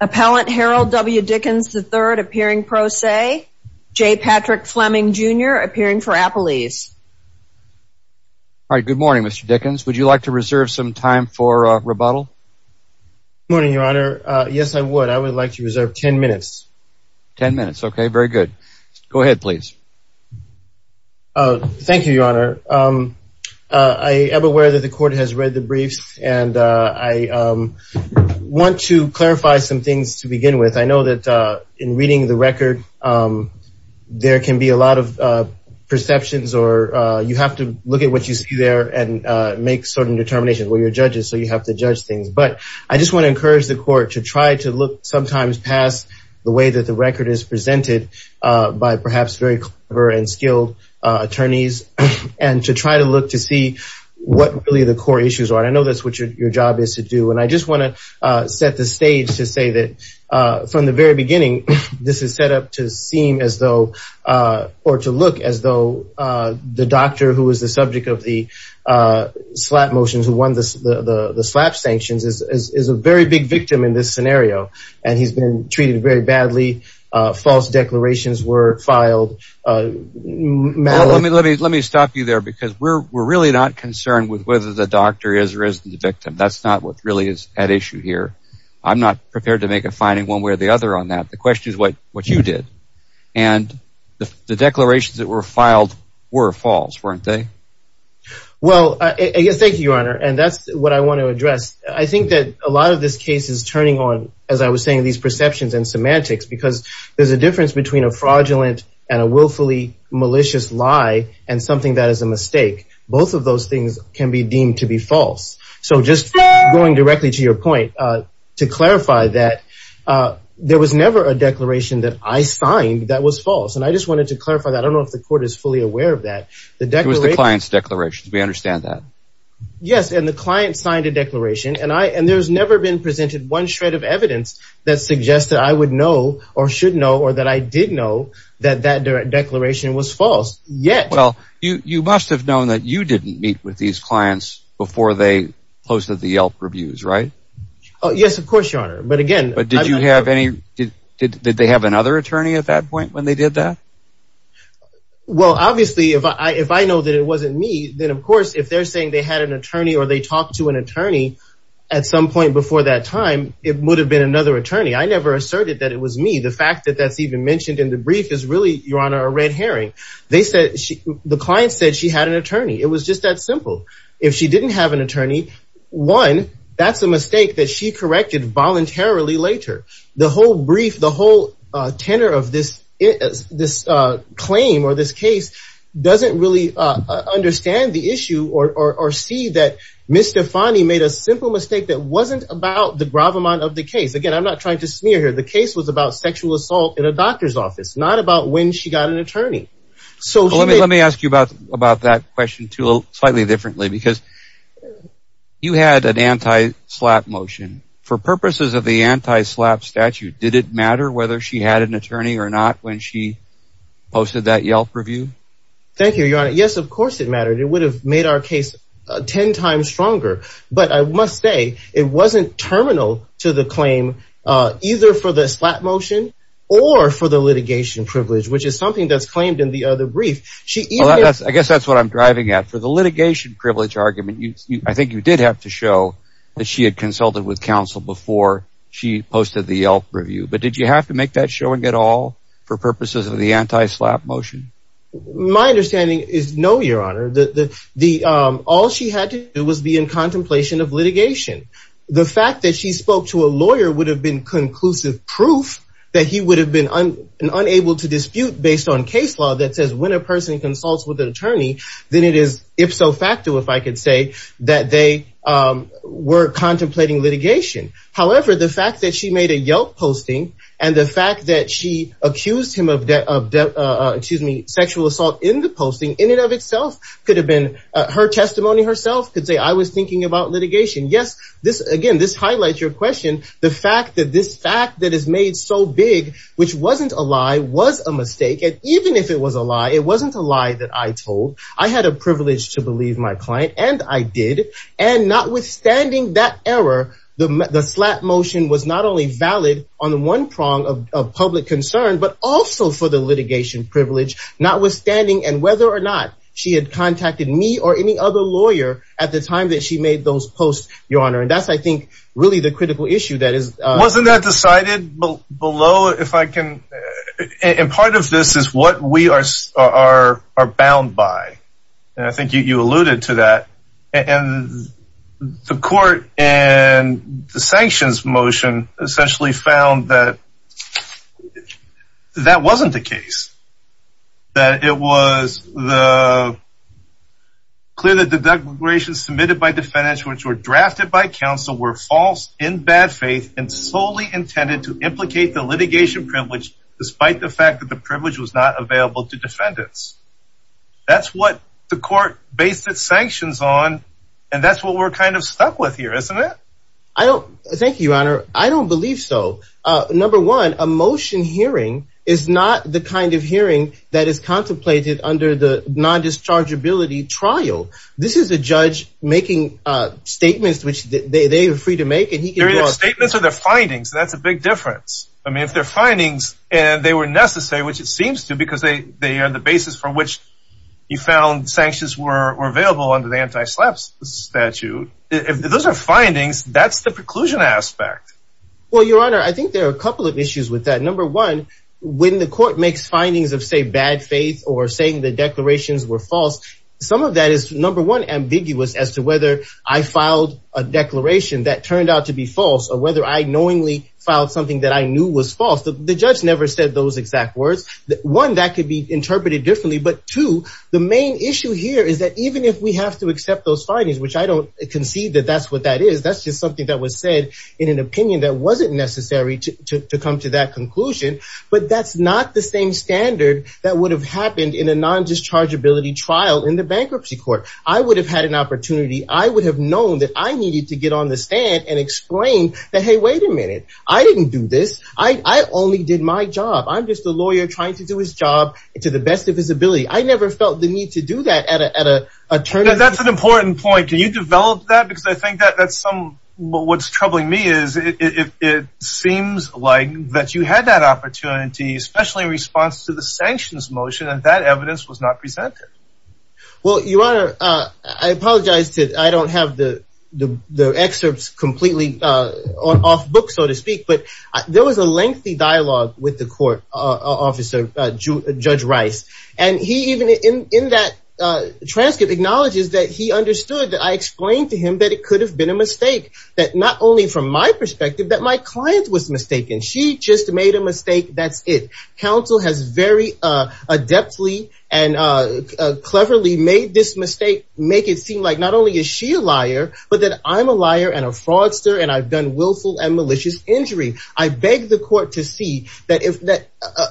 Appellant Harold W. Dickens III appearing pro se, J. Patrick Fleming, Jr. appearing for appellees. All right, good morning, Mr. Dickens. Would you like to reserve some time for rebuttal? Good morning, Your Honor. Yes, I would. I would like to reserve ten minutes. Ten minutes. Okay, very good. I am aware that the Court has rejected your request for rebuttal. The Court has read the briefs, and I want to clarify some things to begin with. I know that in reading the record, there can be a lot of perceptions, or you have to look at what you see there and make certain determinations. Well, you're judges, so you have to judge things. But I just want to encourage the Court to try to look sometimes past the way that the record is presented by perhaps very clever and skilled attorneys and to try to look to see what really the core issues are. I know that's what your job is to do. And I just want to set the stage to say that from the very beginning, this is set up to seem as though or to look as though the doctor who is the subject of the slap motions, who won the slap sanctions, is a very big victim in this scenario. And he's been treated very badly. False declarations were filed. Let me stop you there because we're really not concerned with whether the doctor is or isn't the victim. That's not what really is at issue here. I'm not prepared to make a finding one way or the other on that. The question is what you did. And the declarations that were filed were false, weren't they? Well, thank you, Your Honor. And that's what I want to address. I think that a lot of this case is turning on, as I was saying, these perceptions and semantics because there's a difference between a fraudulent and a willfully malicious lie and something that is a mistake. Both of those things can be deemed to be false. So just going directly to your point, to clarify that, there was never a declaration that I signed that was false. And I just wanted to clarify that. I don't know if the court is fully aware of that. It was the client's declaration. We understand that. Yes, and the client signed a declaration. And there's never been presented one shred of evidence that suggests that I would know or should know or that I did know that that declaration was false, yet. Well, you must have known that you didn't meet with these clients before they posted the Yelp reviews, right? Yes, of course, Your Honor. But again, I'm not sure. But did they have another attorney at that point when they did that? Well, obviously, if I know that it wasn't me, then, of course, if they're saying they had an attorney or they talked to an attorney at some point before that time, it would have been another attorney. I never asserted that it was me. The fact that that's even mentioned in the brief is really, Your Honor, a red herring. The client said she had an attorney. It was just that simple. If she didn't have an attorney, one, that's a mistake that she corrected voluntarily later. The whole brief, the whole tenor of this claim or this case doesn't really understand the issue or see that Ms. Stefani made a simple mistake that wasn't about the gravamonte of the case. Again, I'm not trying to smear her. The case was about sexual assault in a doctor's office, not about when she got an attorney. Let me ask you about that question, too, slightly differently, because you had an anti-SLAPP motion. For purposes of the anti-SLAPP statute, did it matter whether she had an attorney or not when she posted that Yelp review? Thank you, Your Honor. Yes, of course it mattered. It would have made our case ten times stronger. But I must say it wasn't terminal to the claim either for the SLAPP motion or for the litigation privilege, which is something that's claimed in the other brief. I guess that's what I'm driving at. I think you did have to show that she had consulted with counsel before she posted the Yelp review. But did you have to make that showing at all for purposes of the anti-SLAPP motion? My understanding is no, Your Honor. All she had to do was be in contemplation of litigation. The fact that she spoke to a lawyer would have been conclusive proof that he would have been unable to dispute based on case law that says when a person consults with an attorney, then it is ipso facto, if I could say, that they were contemplating litigation. However, the fact that she made a Yelp posting and the fact that she accused him of sexual assault in the posting, in and of itself could have been her testimony herself could say, I was thinking about litigation. Yes, again, this highlights your question, the fact that this fact that is made so big, which wasn't a lie, was a mistake. And even if it was a lie, it wasn't a lie that I told. I had a privilege to believe my client, and I did. And notwithstanding that error, the SLAPP motion was not only valid on the one prong of public concern, but also for the litigation privilege, notwithstanding and whether or not she had contacted me or any other lawyer at the time that she made those posts, Your Honor. And that's, I think, really the critical issue. Wasn't that decided below, if I can? And part of this is what we are bound by. And I think you alluded to that. And the court and the sanctions motion essentially found that that wasn't the case. That it was clear that the declarations submitted by defendants, which were drafted by counsel, were false in bad faith and solely intended to implicate the litigation privilege, despite the fact that the privilege was not available to defendants. That's what the court based its sanctions on. And that's what we're kind of stuck with here, isn't it? Thank you, Your Honor. I don't believe so. Number one, a motion hearing is not the kind of hearing that is contemplated under the non-dischargeability trial. This is a judge making statements which they are free to make. They're either statements or they're findings. That's a big difference. I mean, if they're findings and they were necessary, which it seems to, because they are the basis for which you found sanctions were available under the anti-SLAPP statute, if those are findings, that's the preclusion aspect. Well, Your Honor, I think there are a couple of issues with that. Number one, when the court makes findings of, say, bad faith or saying the declarations were false, some of that is, number one, ambiguous as to whether I filed a declaration that turned out to be false or whether I knowingly filed something that I knew was false. The judge never said those exact words. One, that could be interpreted differently. But two, the main issue here is that even if we have to accept those findings, which I don't concede that that's what that is, because that's just something that was said in an opinion that wasn't necessary to come to that conclusion, but that's not the same standard that would have happened in a non-dischargeability trial in the bankruptcy court. I would have had an opportunity. I would have known that I needed to get on the stand and explain that, hey, wait a minute. I didn't do this. I only did my job. I'm just a lawyer trying to do his job to the best of his ability. I never felt the need to do that at a tournament. That's an important point. Can you develop that? Because I think that's what's troubling me is it seems like that you had that opportunity, especially in response to the sanctions motion, and that evidence was not presented. Well, Your Honor, I apologize. I don't have the excerpts completely off book, so to speak. But there was a lengthy dialogue with the court officer, Judge Rice. And he even in that transcript acknowledges that he understood that I explained to him that it could have been a mistake, that not only from my perspective, that my client was mistaken. She just made a mistake. That's it. Counsel has very adeptly and cleverly made this mistake, make it seem like not only is she a liar, but that I'm a liar and a fraudster and I've done willful and malicious injury. I beg the court to see that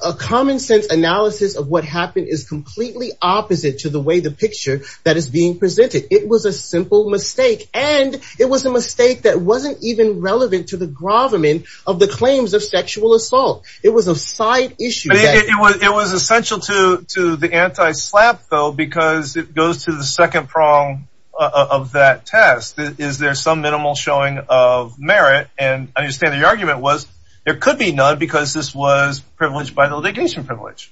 a common-sense analysis of what happened is completely opposite to the way the picture that is being presented. It was a simple mistake. And it was a mistake that wasn't even relevant to the gravamen of the claims of sexual assault. It was a side issue. It was essential to the anti-SLAPP, though, because it goes to the second prong of that test. Is there some minimal showing of merit? And I understand the argument was there could be none because this was privileged by the litigation privilege.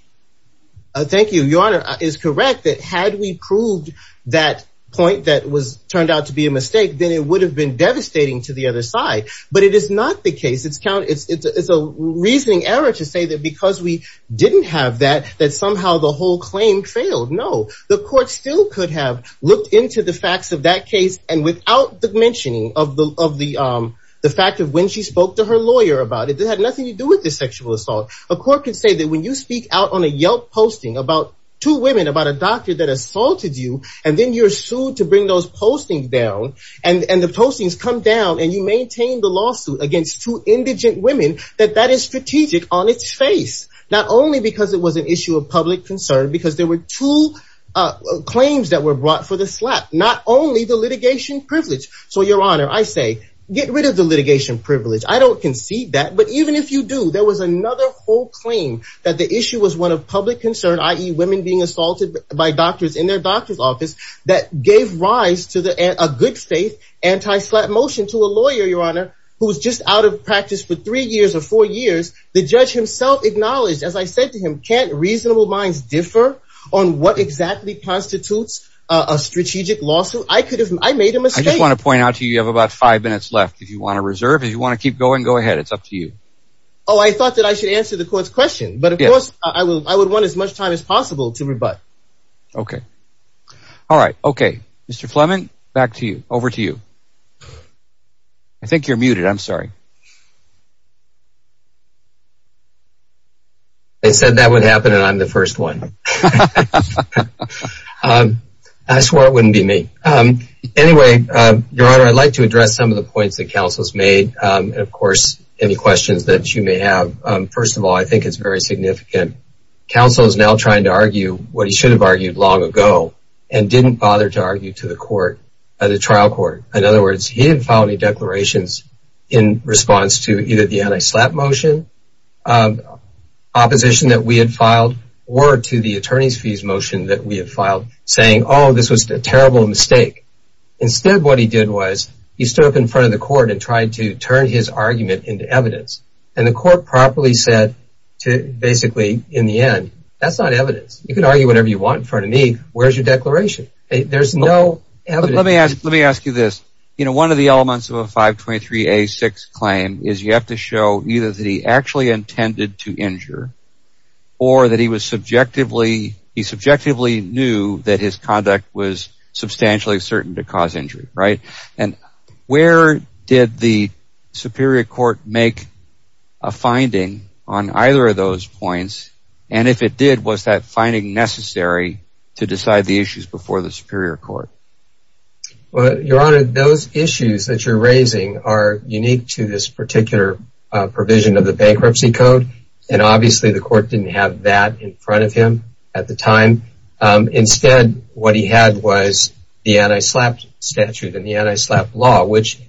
Thank you. Your Honor is correct that had we proved that point that was turned out to be a mistake, then it would have been devastating to the other side. But it is not the case. It's count. It's a reasoning error to say that because we didn't have that, that somehow the whole claim failed. No, the court still could have looked into the facts of that case. And without the mentioning of the fact of when she spoke to her lawyer about it, it had nothing to do with the sexual assault. A court could say that when you speak out on a Yelp posting about two women, about a doctor that assaulted you, and then you're sued to bring those postings down, and the postings come down and you maintain the lawsuit against two indigent women, that that is strategic on its face. Not only because it was an issue of public concern, because there were two claims that were brought for the slap, not only the litigation privilege. So, Your Honor, I say get rid of the litigation privilege. I don't concede that. But even if you do, there was another whole claim that the issue was one of public concern, i.e., women being assaulted by doctors in their doctor's office, that gave rise to a good faith anti-slap motion to a lawyer, Your Honor, who was just out of practice for three years or four years. The judge himself acknowledged, as I said to him, can't reasonable minds differ on what exactly constitutes a strategic lawsuit? I made a mistake. I just want to point out to you, you have about five minutes left. If you want to reserve, if you want to keep going, go ahead. It's up to you. Oh, I thought that I should answer the court's question. But, of course, I would want as much time as possible to rebut. Okay. All right. Okay. Mr. Fleming, back to you. Over to you. I think you're muted. I'm sorry. I said that would happen, and I'm the first one. I swore it wouldn't be me. Anyway, Your Honor, I'd like to address some of the points that counsel has made. And, of course, any questions that you may have. First of all, I think it's very significant. Counsel is now trying to argue what he should have argued long ago and didn't bother to argue to the court, the trial court. In other words, he didn't file any declarations. In response to either the anti-slap motion, opposition that we had filed, or to the attorney's fees motion that we had filed, saying, oh, this was a terrible mistake. Instead, what he did was he stood up in front of the court and tried to turn his argument into evidence. And the court properly said, basically, in the end, that's not evidence. You can argue whatever you want in front of me. Where's your declaration? There's no evidence. Let me ask you this. One of the elements of a 523A6 claim is you have to show either that he actually intended to injure or that he subjectively knew that his conduct was substantially certain to cause injury. And where did the superior court make a finding on either of those points? And if it did, was that finding necessary to decide the issues before the superior court? Your Honor, those issues that you're raising are unique to this particular provision of the bankruptcy code. And obviously, the court didn't have that in front of him at the time. Instead, what he had was the anti-slap statute and the anti-slap law, which,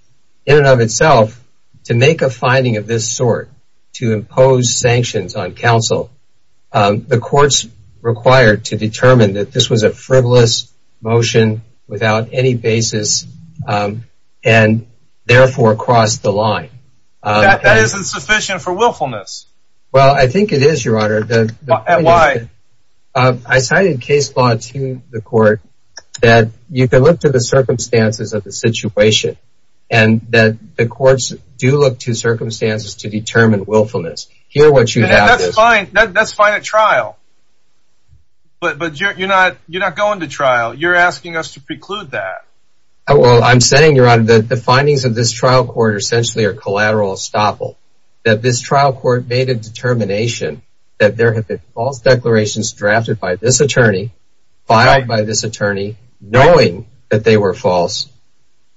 in and of itself, to make a finding of this sort, to impose sanctions on counsel, the courts required to determine that this was a frivolous motion without any basis and therefore crossed the line. That isn't sufficient for willfulness. Well, I think it is, Your Honor. Why? I cited case law to the court that you can look to the circumstances of the situation and that the courts do look to circumstances to determine willfulness. That's fine at trial. But you're not going to trial. You're asking us to preclude that. Well, I'm saying, Your Honor, that the findings of this trial court are essentially a collateral estoppel, that this trial court made a determination that there had been false declarations drafted by this attorney, filed by this attorney, knowing that they were false.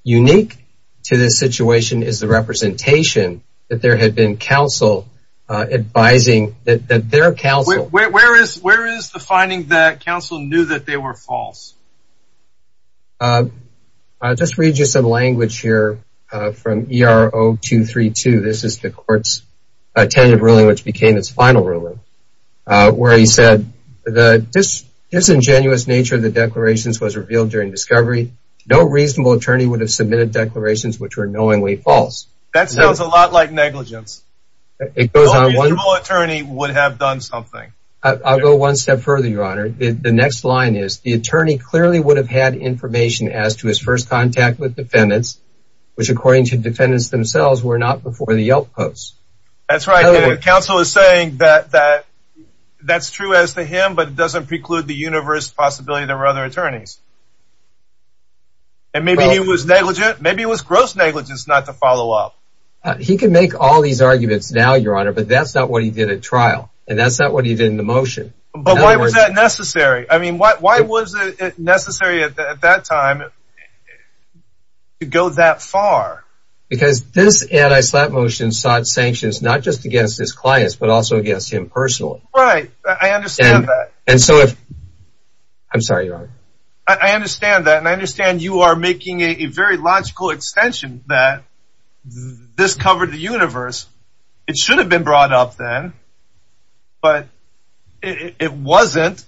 Unique to this situation is the representation that there had been counsel advising that their counsel Where is the finding that counsel knew that they were false? I'll just read you some language here from ERO 232. This is the court's tentative ruling, which became its final ruling, where he said, The disingenuous nature of the declarations was revealed during discovery. No reasonable attorney would have submitted declarations which were knowingly false. That sounds a lot like negligence. No reasonable attorney would have done something. I'll go one step further, Your Honor. The next line is, The attorney clearly would have had information as to his first contact with defendants, which, according to defendants themselves, were not before the Yelp post. That's right. Counsel is saying that that's true as to him, but it doesn't preclude the universe possibility there were other attorneys. And maybe he was negligent. Maybe it was gross negligence not to follow up. He can make all these arguments now, Your Honor, but that's not what he did at trial. And that's not what he did in the motion. But why was that necessary? I mean, why was it necessary at that time to go that far? Because this anti-slap motion sought sanctions not just against his clients, but also against him personally. Right. I understand that. And so if—I'm sorry, Your Honor. I understand that, and I understand you are making a very logical extension that this covered the universe. It should have been brought up then, but it wasn't.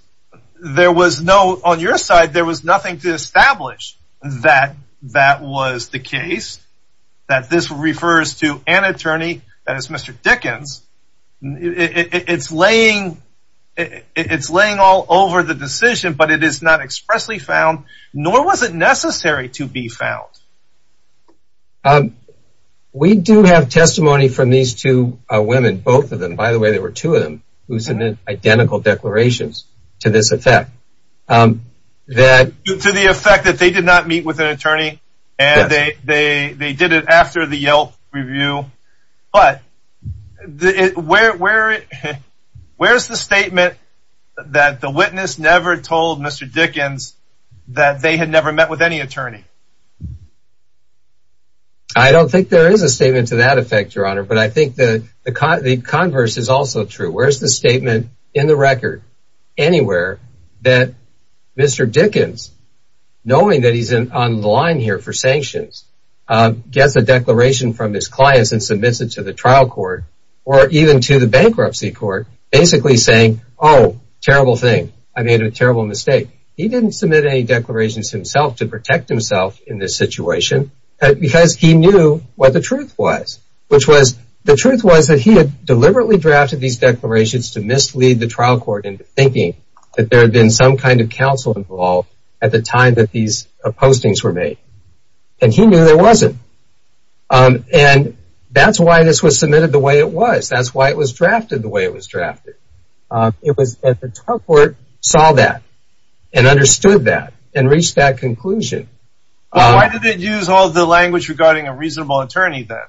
There was no—on your side, there was nothing to establish that that was the case, that this refers to an attorney, that is, Mr. Dickens. It's laying all over the decision, but it is not expressly found, nor was it necessary to be found. We do have testimony from these two women, both of them. By the way, there were two of them who submitted identical declarations to this effect. To the effect that they did not meet with an attorney, and they did it after the Yelp review. But where is the statement that the witness never told Mr. Dickens that they had never met with any attorney? I don't think there is a statement to that effect, Your Honor, but I think the converse is also true. Where is the statement in the record anywhere that Mr. Dickens, knowing that he's on the line here for sanctions, gets a declaration from his clients and submits it to the trial court, or even to the bankruptcy court, basically saying, oh, terrible thing, I made a terrible mistake. He didn't submit any declarations himself to protect himself in this situation because he knew what the truth was, which was the truth was that he had deliberately drafted these declarations to mislead the trial court into thinking that there had been some kind of counsel involved at the time that these postings were made. And he knew there wasn't. And that's why this was submitted the way it was. It was that the trial court saw that and understood that and reached that conclusion. Why did it use all the language regarding a reasonable attorney then?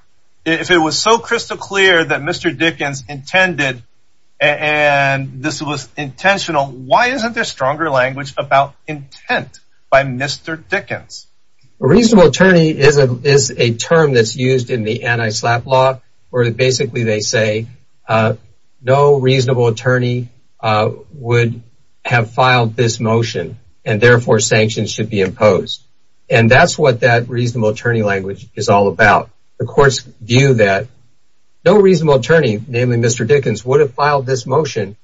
If it was so crystal clear that Mr. Dickens intended and this was intentional, why isn't there stronger language about intent by Mr. Dickens? A reasonable attorney is a term that's used in the anti-SLAPP law, where basically they say no reasonable attorney would have filed this motion, and therefore sanctions should be imposed. And that's what that reasonable attorney language is all about. The courts view that no reasonable attorney, namely Mr. Dickens, would have filed this motion,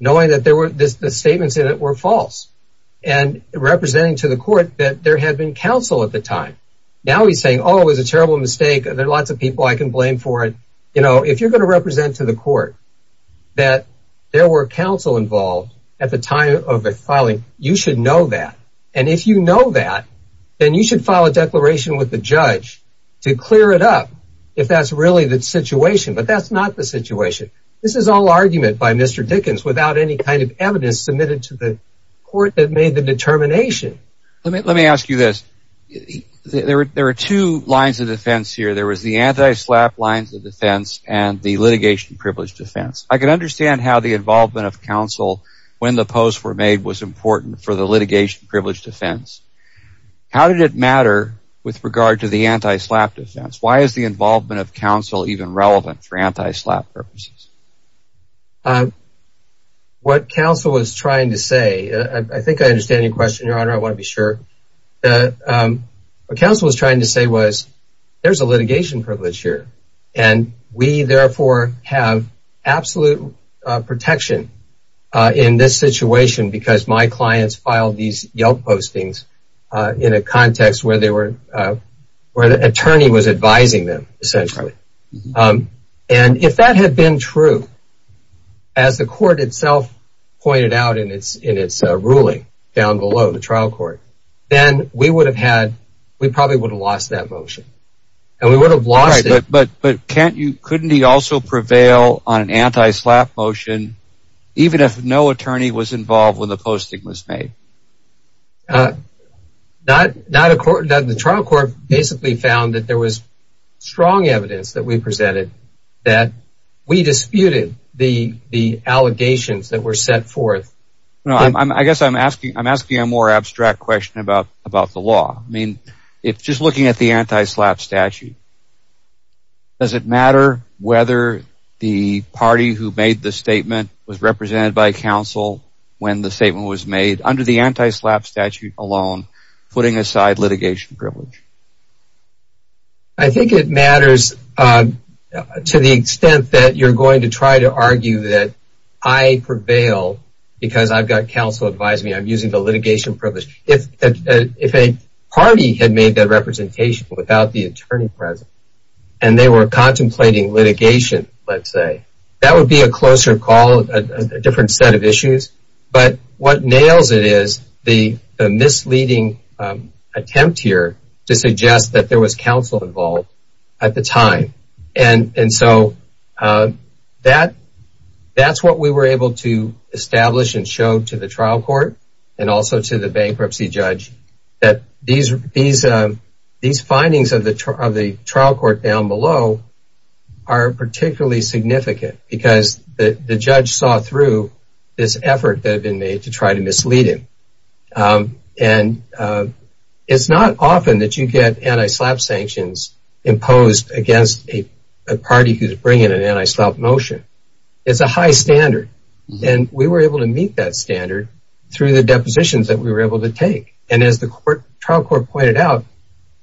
knowing that the statements in it were false, and representing to the court that there had been counsel at the time. Now he's saying, oh, it was a terrible mistake. There are lots of people I can blame for it. You know, if you're going to represent to the court that there were counsel involved at the time of the filing, you should know that. And if you know that, then you should file a declaration with the judge to clear it up if that's really the situation. But that's not the situation. This is all argument by Mr. Dickens without any kind of evidence submitted to the court that made the determination. Let me ask you this. There are two lines of defense here. There was the anti-SLAPP lines of defense and the litigation privilege defense. I can understand how the involvement of counsel when the posts were made was important for the litigation privilege defense. How did it matter with regard to the anti-SLAPP defense? Why is the involvement of counsel even relevant for anti-SLAPP purposes? What counsel was trying to say, I think I understand your question, Your Honor. I want to be sure. What counsel was trying to say was there's a litigation privilege here, and we therefore have absolute protection in this situation because my clients filed these Yelp postings in a context where the attorney was advising them, essentially. And if that had been true, as the court itself pointed out in its ruling down below, the trial court, then we probably would have lost that motion. But couldn't he also prevail on an anti-SLAPP motion even if no attorney was involved when the posting was made? The trial court basically found that there was strong evidence that we presented that we disputed the allegations that were set forth. I guess I'm asking a more abstract question about the law. Just looking at the anti-SLAPP statute, does it matter whether the party who made the statement was represented by counsel when the statement was made under the anti-SLAPP statute alone, putting aside litigation privilege? I think it matters to the extent that you're going to try to argue that I prevail because I've got counsel advising me. I'm using the litigation privilege. If a party had made that representation without the attorney present and they were contemplating litigation, let's say, that would be a closer call, a different set of issues. But what nails it is the misleading attempt here to suggest that there was counsel involved at the time. And so that's what we were able to establish and show to the trial court and also to the bankruptcy judge, that these findings of the trial court down below are particularly significant because the judge saw through this effort that had been made to try to mislead him. And it's not often that you get anti-SLAPP sanctions imposed against a party who's bringing an anti-SLAPP motion. It's a high standard. And we were able to meet that standard through the depositions that we were able to take. And as the trial court pointed out,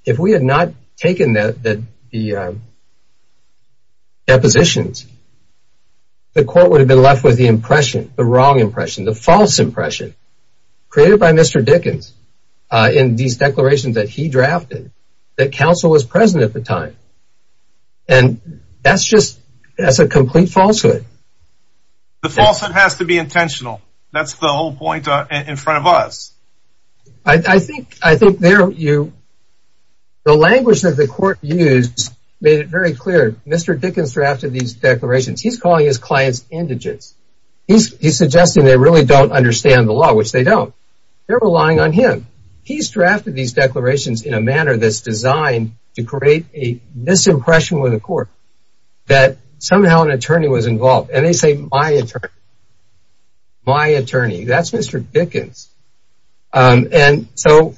if we had not taken the depositions, the court would have been left with the impression, the wrong impression, the false impression created by Mr. Dickens in these declarations that he drafted that counsel was present at the time. And that's just, that's a complete falsehood. The falsehood has to be intentional. That's the whole point in front of us. I think there you, the language that the court used made it very clear. Mr. Dickens drafted these declarations. He's calling his clients indigents. He's suggesting they really don't understand the law, which they don't. They're relying on him. But he's drafted these declarations in a manner that's designed to create a misimpression with the court that somehow an attorney was involved. And they say, my attorney. My attorney. That's Mr. Dickens. And so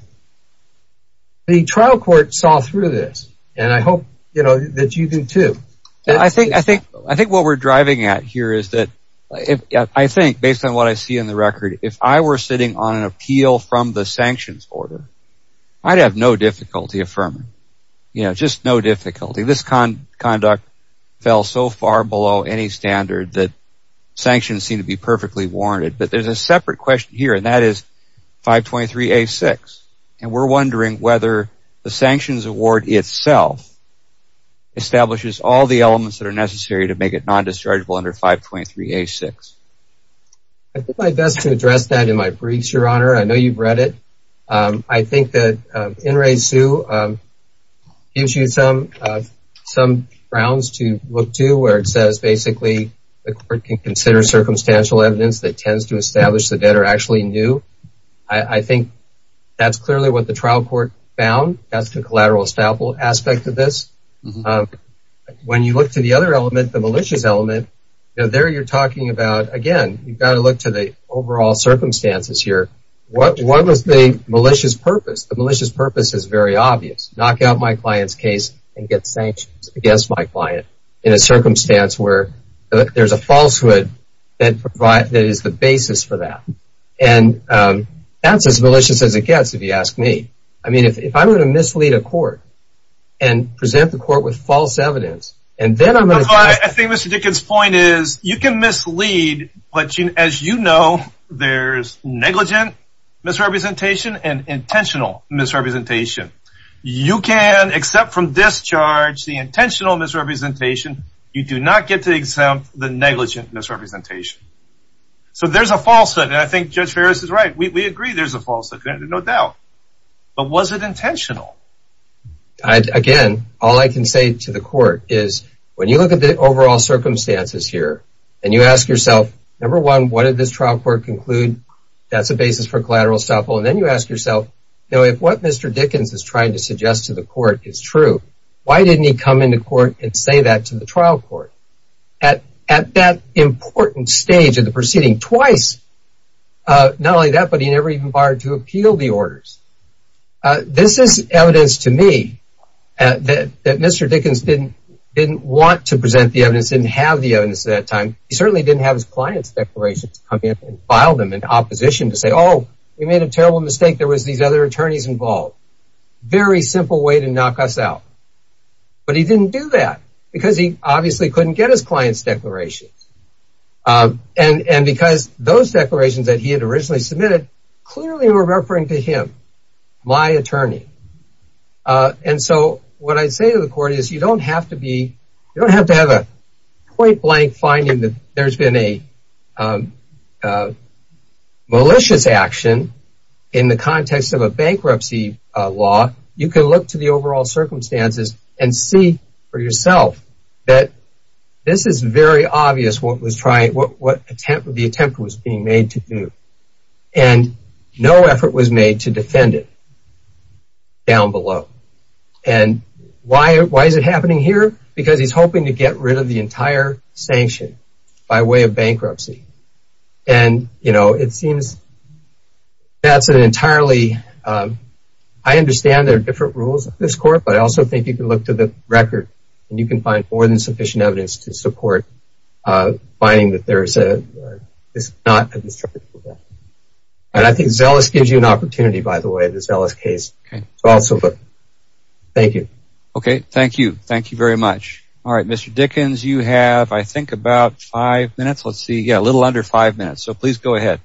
the trial court saw through this. And I hope, you know, that you do too. I think what we're driving at here is that, I think, based on what I see in the record, if I were sitting on an appeal from the sanctions order, I'd have no difficulty affirming. You know, just no difficulty. This conduct fell so far below any standard that sanctions seem to be perfectly warranted. But there's a separate question here, and that is 523A6. And we're wondering whether the sanctions award itself establishes all the elements that are necessary to make it non-dischargeable under 523A6. I did my best to address that in my briefs, Your Honor. I know you've read it. I think that In re Sue gives you some grounds to look to where it says, basically, the court can consider circumstantial evidence that tends to establish the debtor actually knew. I think that's clearly what the trial court found. That's the collateral establishment aspect of this. When you look to the other element, the malicious element, there you're talking about, again, you've got to look to the overall circumstances here. What was the malicious purpose? The malicious purpose is very obvious. Knock out my client's case and get sanctions against my client in a circumstance where there's a falsehood that is the basis for that. And that's as malicious as it gets, if you ask me. I mean, if I'm going to mislead a court and present the court with false evidence, and then I'm going to... I think Mr. Dickens' point is you can mislead, but as you know, there's negligent misrepresentation and intentional misrepresentation. You can, except from discharge, the intentional misrepresentation, you do not get to exempt the negligent misrepresentation. So there's a falsehood, and I think Judge Ferris is right. We agree there's a falsehood, no doubt. But was it intentional? Again, all I can say to the court is when you look at the overall circumstances here, and you ask yourself, number one, what did this trial court conclude? That's the basis for collateral estoppel. And then you ask yourself, if what Mr. Dickens is trying to suggest to the court is true, why didn't he come into court and say that to the trial court? At that important stage of the proceeding, twice, not only that, but he never even barred to appeal the orders. This is evidence to me that Mr. Dickens didn't want to present the evidence, didn't have the evidence at that time. He certainly didn't have his client's declaration to come in and file them in opposition to say, oh, we made a terrible mistake, there was these other attorneys involved. Very simple way to knock us out. But he didn't do that because he obviously couldn't get his client's declarations. And because those declarations that he had originally submitted clearly were referring to him, my attorney. And so what I say to the court is you don't have to have a point-blank finding that there's been a malicious action in the context of a bankruptcy law. You can look to the overall circumstances and see for yourself that this is very obvious what the attempt was being made to do. And no effort was made to defend it down below. And why is it happening here? Because he's hoping to get rid of the entire sanction by way of bankruptcy. And, you know, it seems that's an entirely ‑‑ I understand there are different rules at this court, but I also think you can look to the record and you can find more than sufficient evidence to support finding that there's a ‑‑ it's not a destructive event. And I think Zealous gives you an opportunity, by the way, this Zealous case to also look. Thank you. Okay. Thank you. Thank you very much. All right. Mr. Dickens, you have, I think, about five minutes. Let's see. Yeah, a little under five minutes. So please go ahead.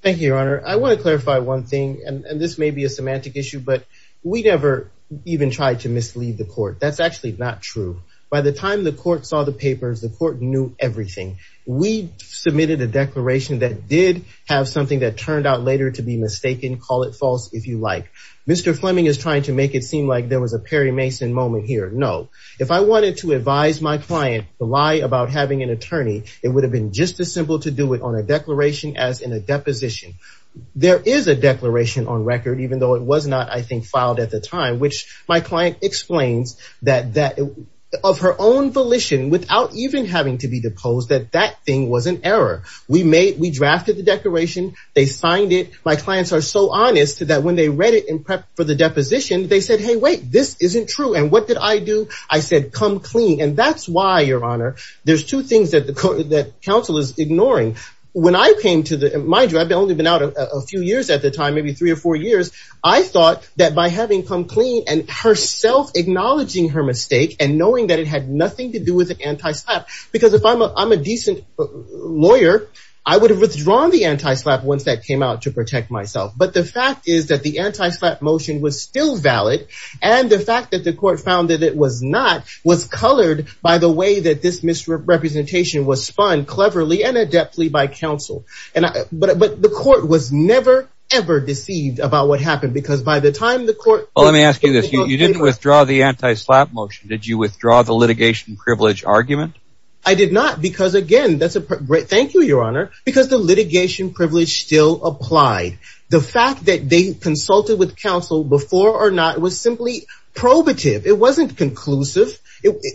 Thank you, Your Honor. I want to clarify one thing, and this may be a semantic issue, but we never even tried to mislead the court. That's actually not true. By the time the court saw the papers, the court knew everything. We submitted a declaration that did have something that turned out later to be mistaken. Call it false if you like. Mr. Fleming is trying to make it seem like there was a Perry Mason moment here. No. If I wanted to advise my client to lie about having an attorney, it would have been just as simple to do it on a declaration as in a deposition. There is a declaration on record, even though it was not, I think, filed at the time, which my client explains that of her own volition, without even having to be deposed, that that thing was an error. We drafted the declaration. They signed it. My clients are so honest that when they read it in prep for the deposition, they said, hey, wait, this isn't true. And what did I do? I said, come clean. And that's why, Your Honor, there's two things that counsel is ignoring. When I came to the, mind you, I'd only been out a few years at the time, maybe three or four years. I thought that by having come clean and herself acknowledging her mistake and knowing that it had nothing to do with an anti-slap, because if I'm a decent lawyer, I would have withdrawn the anti-slap once that came out to protect myself. But the fact is that the anti-slap motion was still valid. And the fact that the court found that it was not was colored by the way that this misrepresentation was spun cleverly and adeptly by counsel. But the court was never, ever deceived about what happened, because by the time the court. Well, let me ask you this. You didn't withdraw the anti-slap motion. Did you withdraw the litigation privilege argument? I did not, because, again, that's a great thank you, Your Honor, because the litigation privilege still applied. The fact that they consulted with counsel before or not was simply probative. It wasn't conclusive.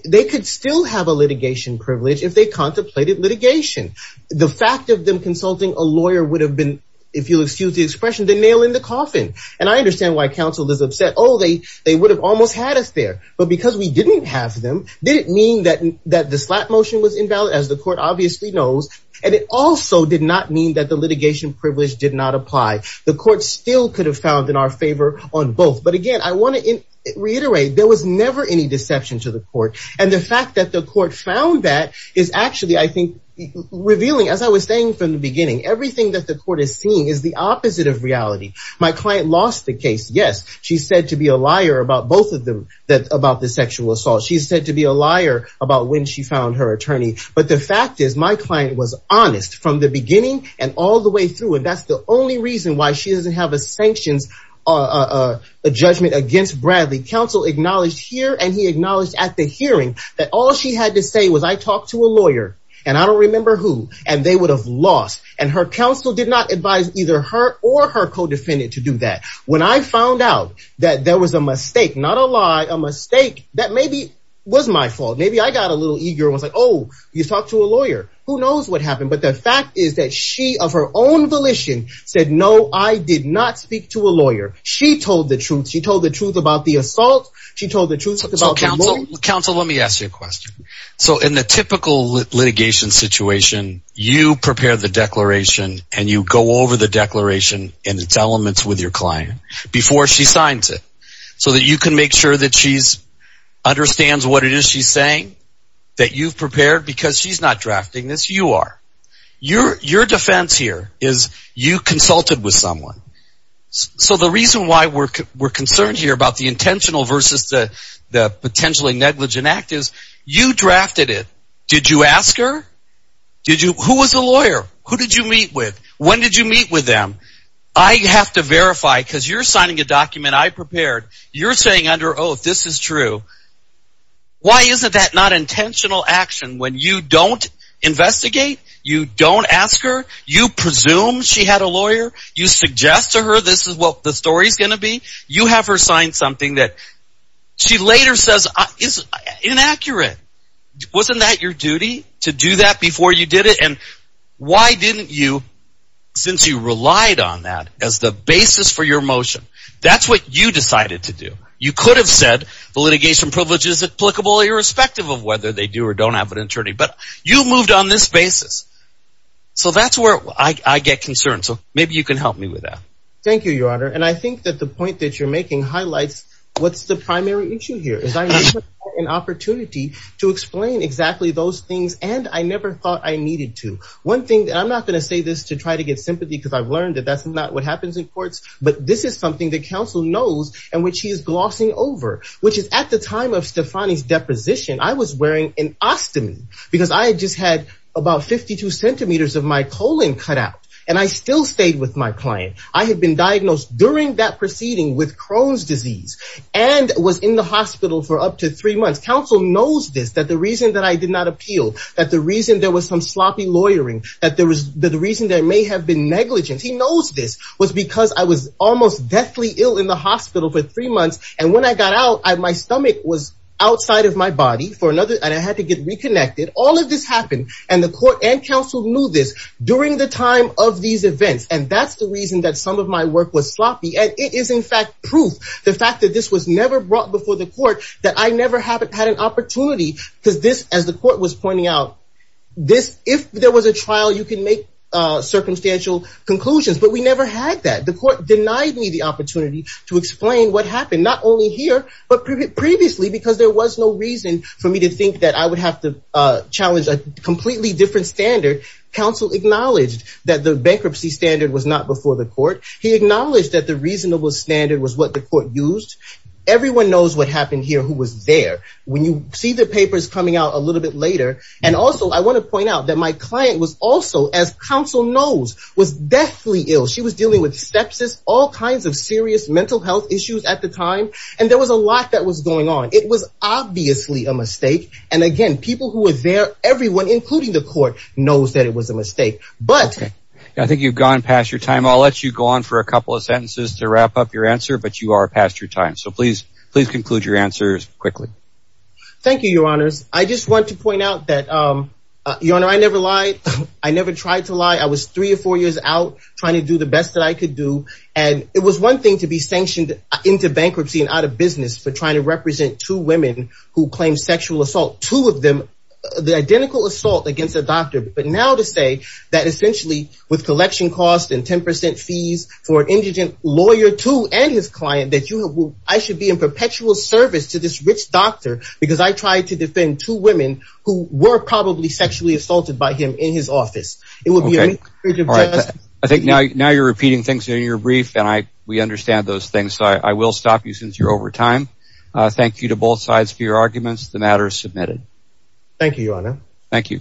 They could still have a litigation privilege if they contemplated litigation. The fact of them consulting a lawyer would have been, if you'll excuse the expression, the nail in the coffin. And I understand why counsel is upset. Oh, they they would have almost had us there. But because we didn't have them, didn't mean that that the slap motion was invalid, as the court obviously knows. And it also did not mean that the litigation privilege did not apply. The court still could have found in our favor on both. But, again, I want to reiterate, there was never any deception to the court. And the fact that the court found that is actually, I think, revealing, as I was saying from the beginning, everything that the court is seeing is the opposite of reality. My client lost the case, yes. She's said to be a liar about both of them, about the sexual assault. She's said to be a liar about when she found her attorney. But the fact is, my client was honest from the beginning and all the way through. And that's the only reason why she doesn't have a sanctions judgment against Bradley. Counsel acknowledged here and he acknowledged at the hearing that all she had to say was, I talked to a lawyer and I don't remember who, and they would have lost. And her counsel did not advise either her or her co-defendant to do that. When I found out that there was a mistake, not a lie, a mistake, that maybe was my fault. Maybe I got a little eager and was like, oh, you talked to a lawyer. Who knows what happened? But the fact is that she of her own volition said, no, I did not speak to a lawyer. She told the truth. She told the truth about the assault. She told the truth about the lawyer. Counsel, let me ask you a question. So in the typical litigation situation, you prepare the declaration and you go over the declaration and its elements with your client before she signs it so that you can make sure that she understands what it is she's saying, that you've prepared because she's not drafting this, you are. Your defense here is you consulted with someone. So the reason why we're concerned here about the intentional versus the potentially negligent act is, you drafted it. Did you ask her? Who was the lawyer? Who did you meet with? When did you meet with them? I have to verify because you're signing a document I prepared. You're saying under oath, this is true. Why isn't that not intentional action when you don't investigate, you don't ask her, you presume she had a lawyer, you suggest to her this is what the story is going to be. You have her sign something that she later says is inaccurate. Wasn't that your duty to do that before you did it? And why didn't you, since you relied on that as the basis for your motion, that's what you decided to do. You could have said the litigation privilege is applicable irrespective of whether they do or don't have an attorney, but you moved on this basis. So that's where I get concerned. So maybe you can help me with that. Thank you, Your Honor. And I think that the point that you're making highlights what's the primary issue here, is I never had an opportunity to explain exactly those things, and I never thought I needed to. One thing, and I'm not going to say this to try to get sympathy because I've learned that that's not what happens in courts, but this is something that counsel knows and which he is glossing over, which is at the time of Stefani's deposition, I was wearing an ostomy because I just had about 52 centimeters of my colon cut out and I still stayed with my client. I had been diagnosed during that proceeding with Crohn's disease and was in the hospital for up to three months. Counsel knows this, that the reason that I did not appeal, that the reason there was some sloppy lawyering, that the reason there may have been negligence, he knows this, was because I was almost deathly ill in the hospital for three months. And when I got out, my stomach was outside of my body, and I had to get reconnected. All of this happened, and the court and counsel knew this during the time of these events. And that's the reason that some of my work was sloppy. And it is, in fact, proof, the fact that this was never brought before the court, that I never had an opportunity, because this, as the court was pointing out, this, if there was a trial, you can make circumstantial conclusions, but we never had that. The court denied me the opportunity to explain what happened, not only here, but previously, because there was no reason for me to think that I would have to challenge a completely different standard. Counsel acknowledged that the bankruptcy standard was not before the court. He acknowledged that the reasonable standard was what the court used. Everyone knows what happened here who was there. When you see the papers coming out a little bit later, and also, I want to point out that my client was also, as counsel knows, was deathly ill. She was dealing with sepsis, all kinds of serious mental health issues at the time, and there was a lot that was going on. It was obviously a mistake, and again, people who were there, everyone, including the court, knows that it was a mistake. But... I think you've gone past your time. I'll let you go on for a couple of sentences to wrap up your answer, but you are past your time. So please conclude your answers quickly. Thank you, Your Honors. I just want to point out that, Your Honor, I never lied. I never tried to lie. I was three or four years out trying to do the best that I could do, and it was one thing to be sanctioned into bankruptcy and out of business for trying to represent two women who claimed sexual assault, two of them, the identical assault against a doctor. But now to say that essentially, with collection costs and 10% fees for an indigent lawyer, too, and his client, that I should be in perpetual service to this rich doctor because I tried to defend two women who were probably sexually assaulted by him in his office. It would be a breach of justice. I think now you're repeating things in your brief, and we understand those things, so I will stop you since you're over time. Thank you to both sides for your arguments. The matter is submitted. Thank you, Your Honor. Thank you.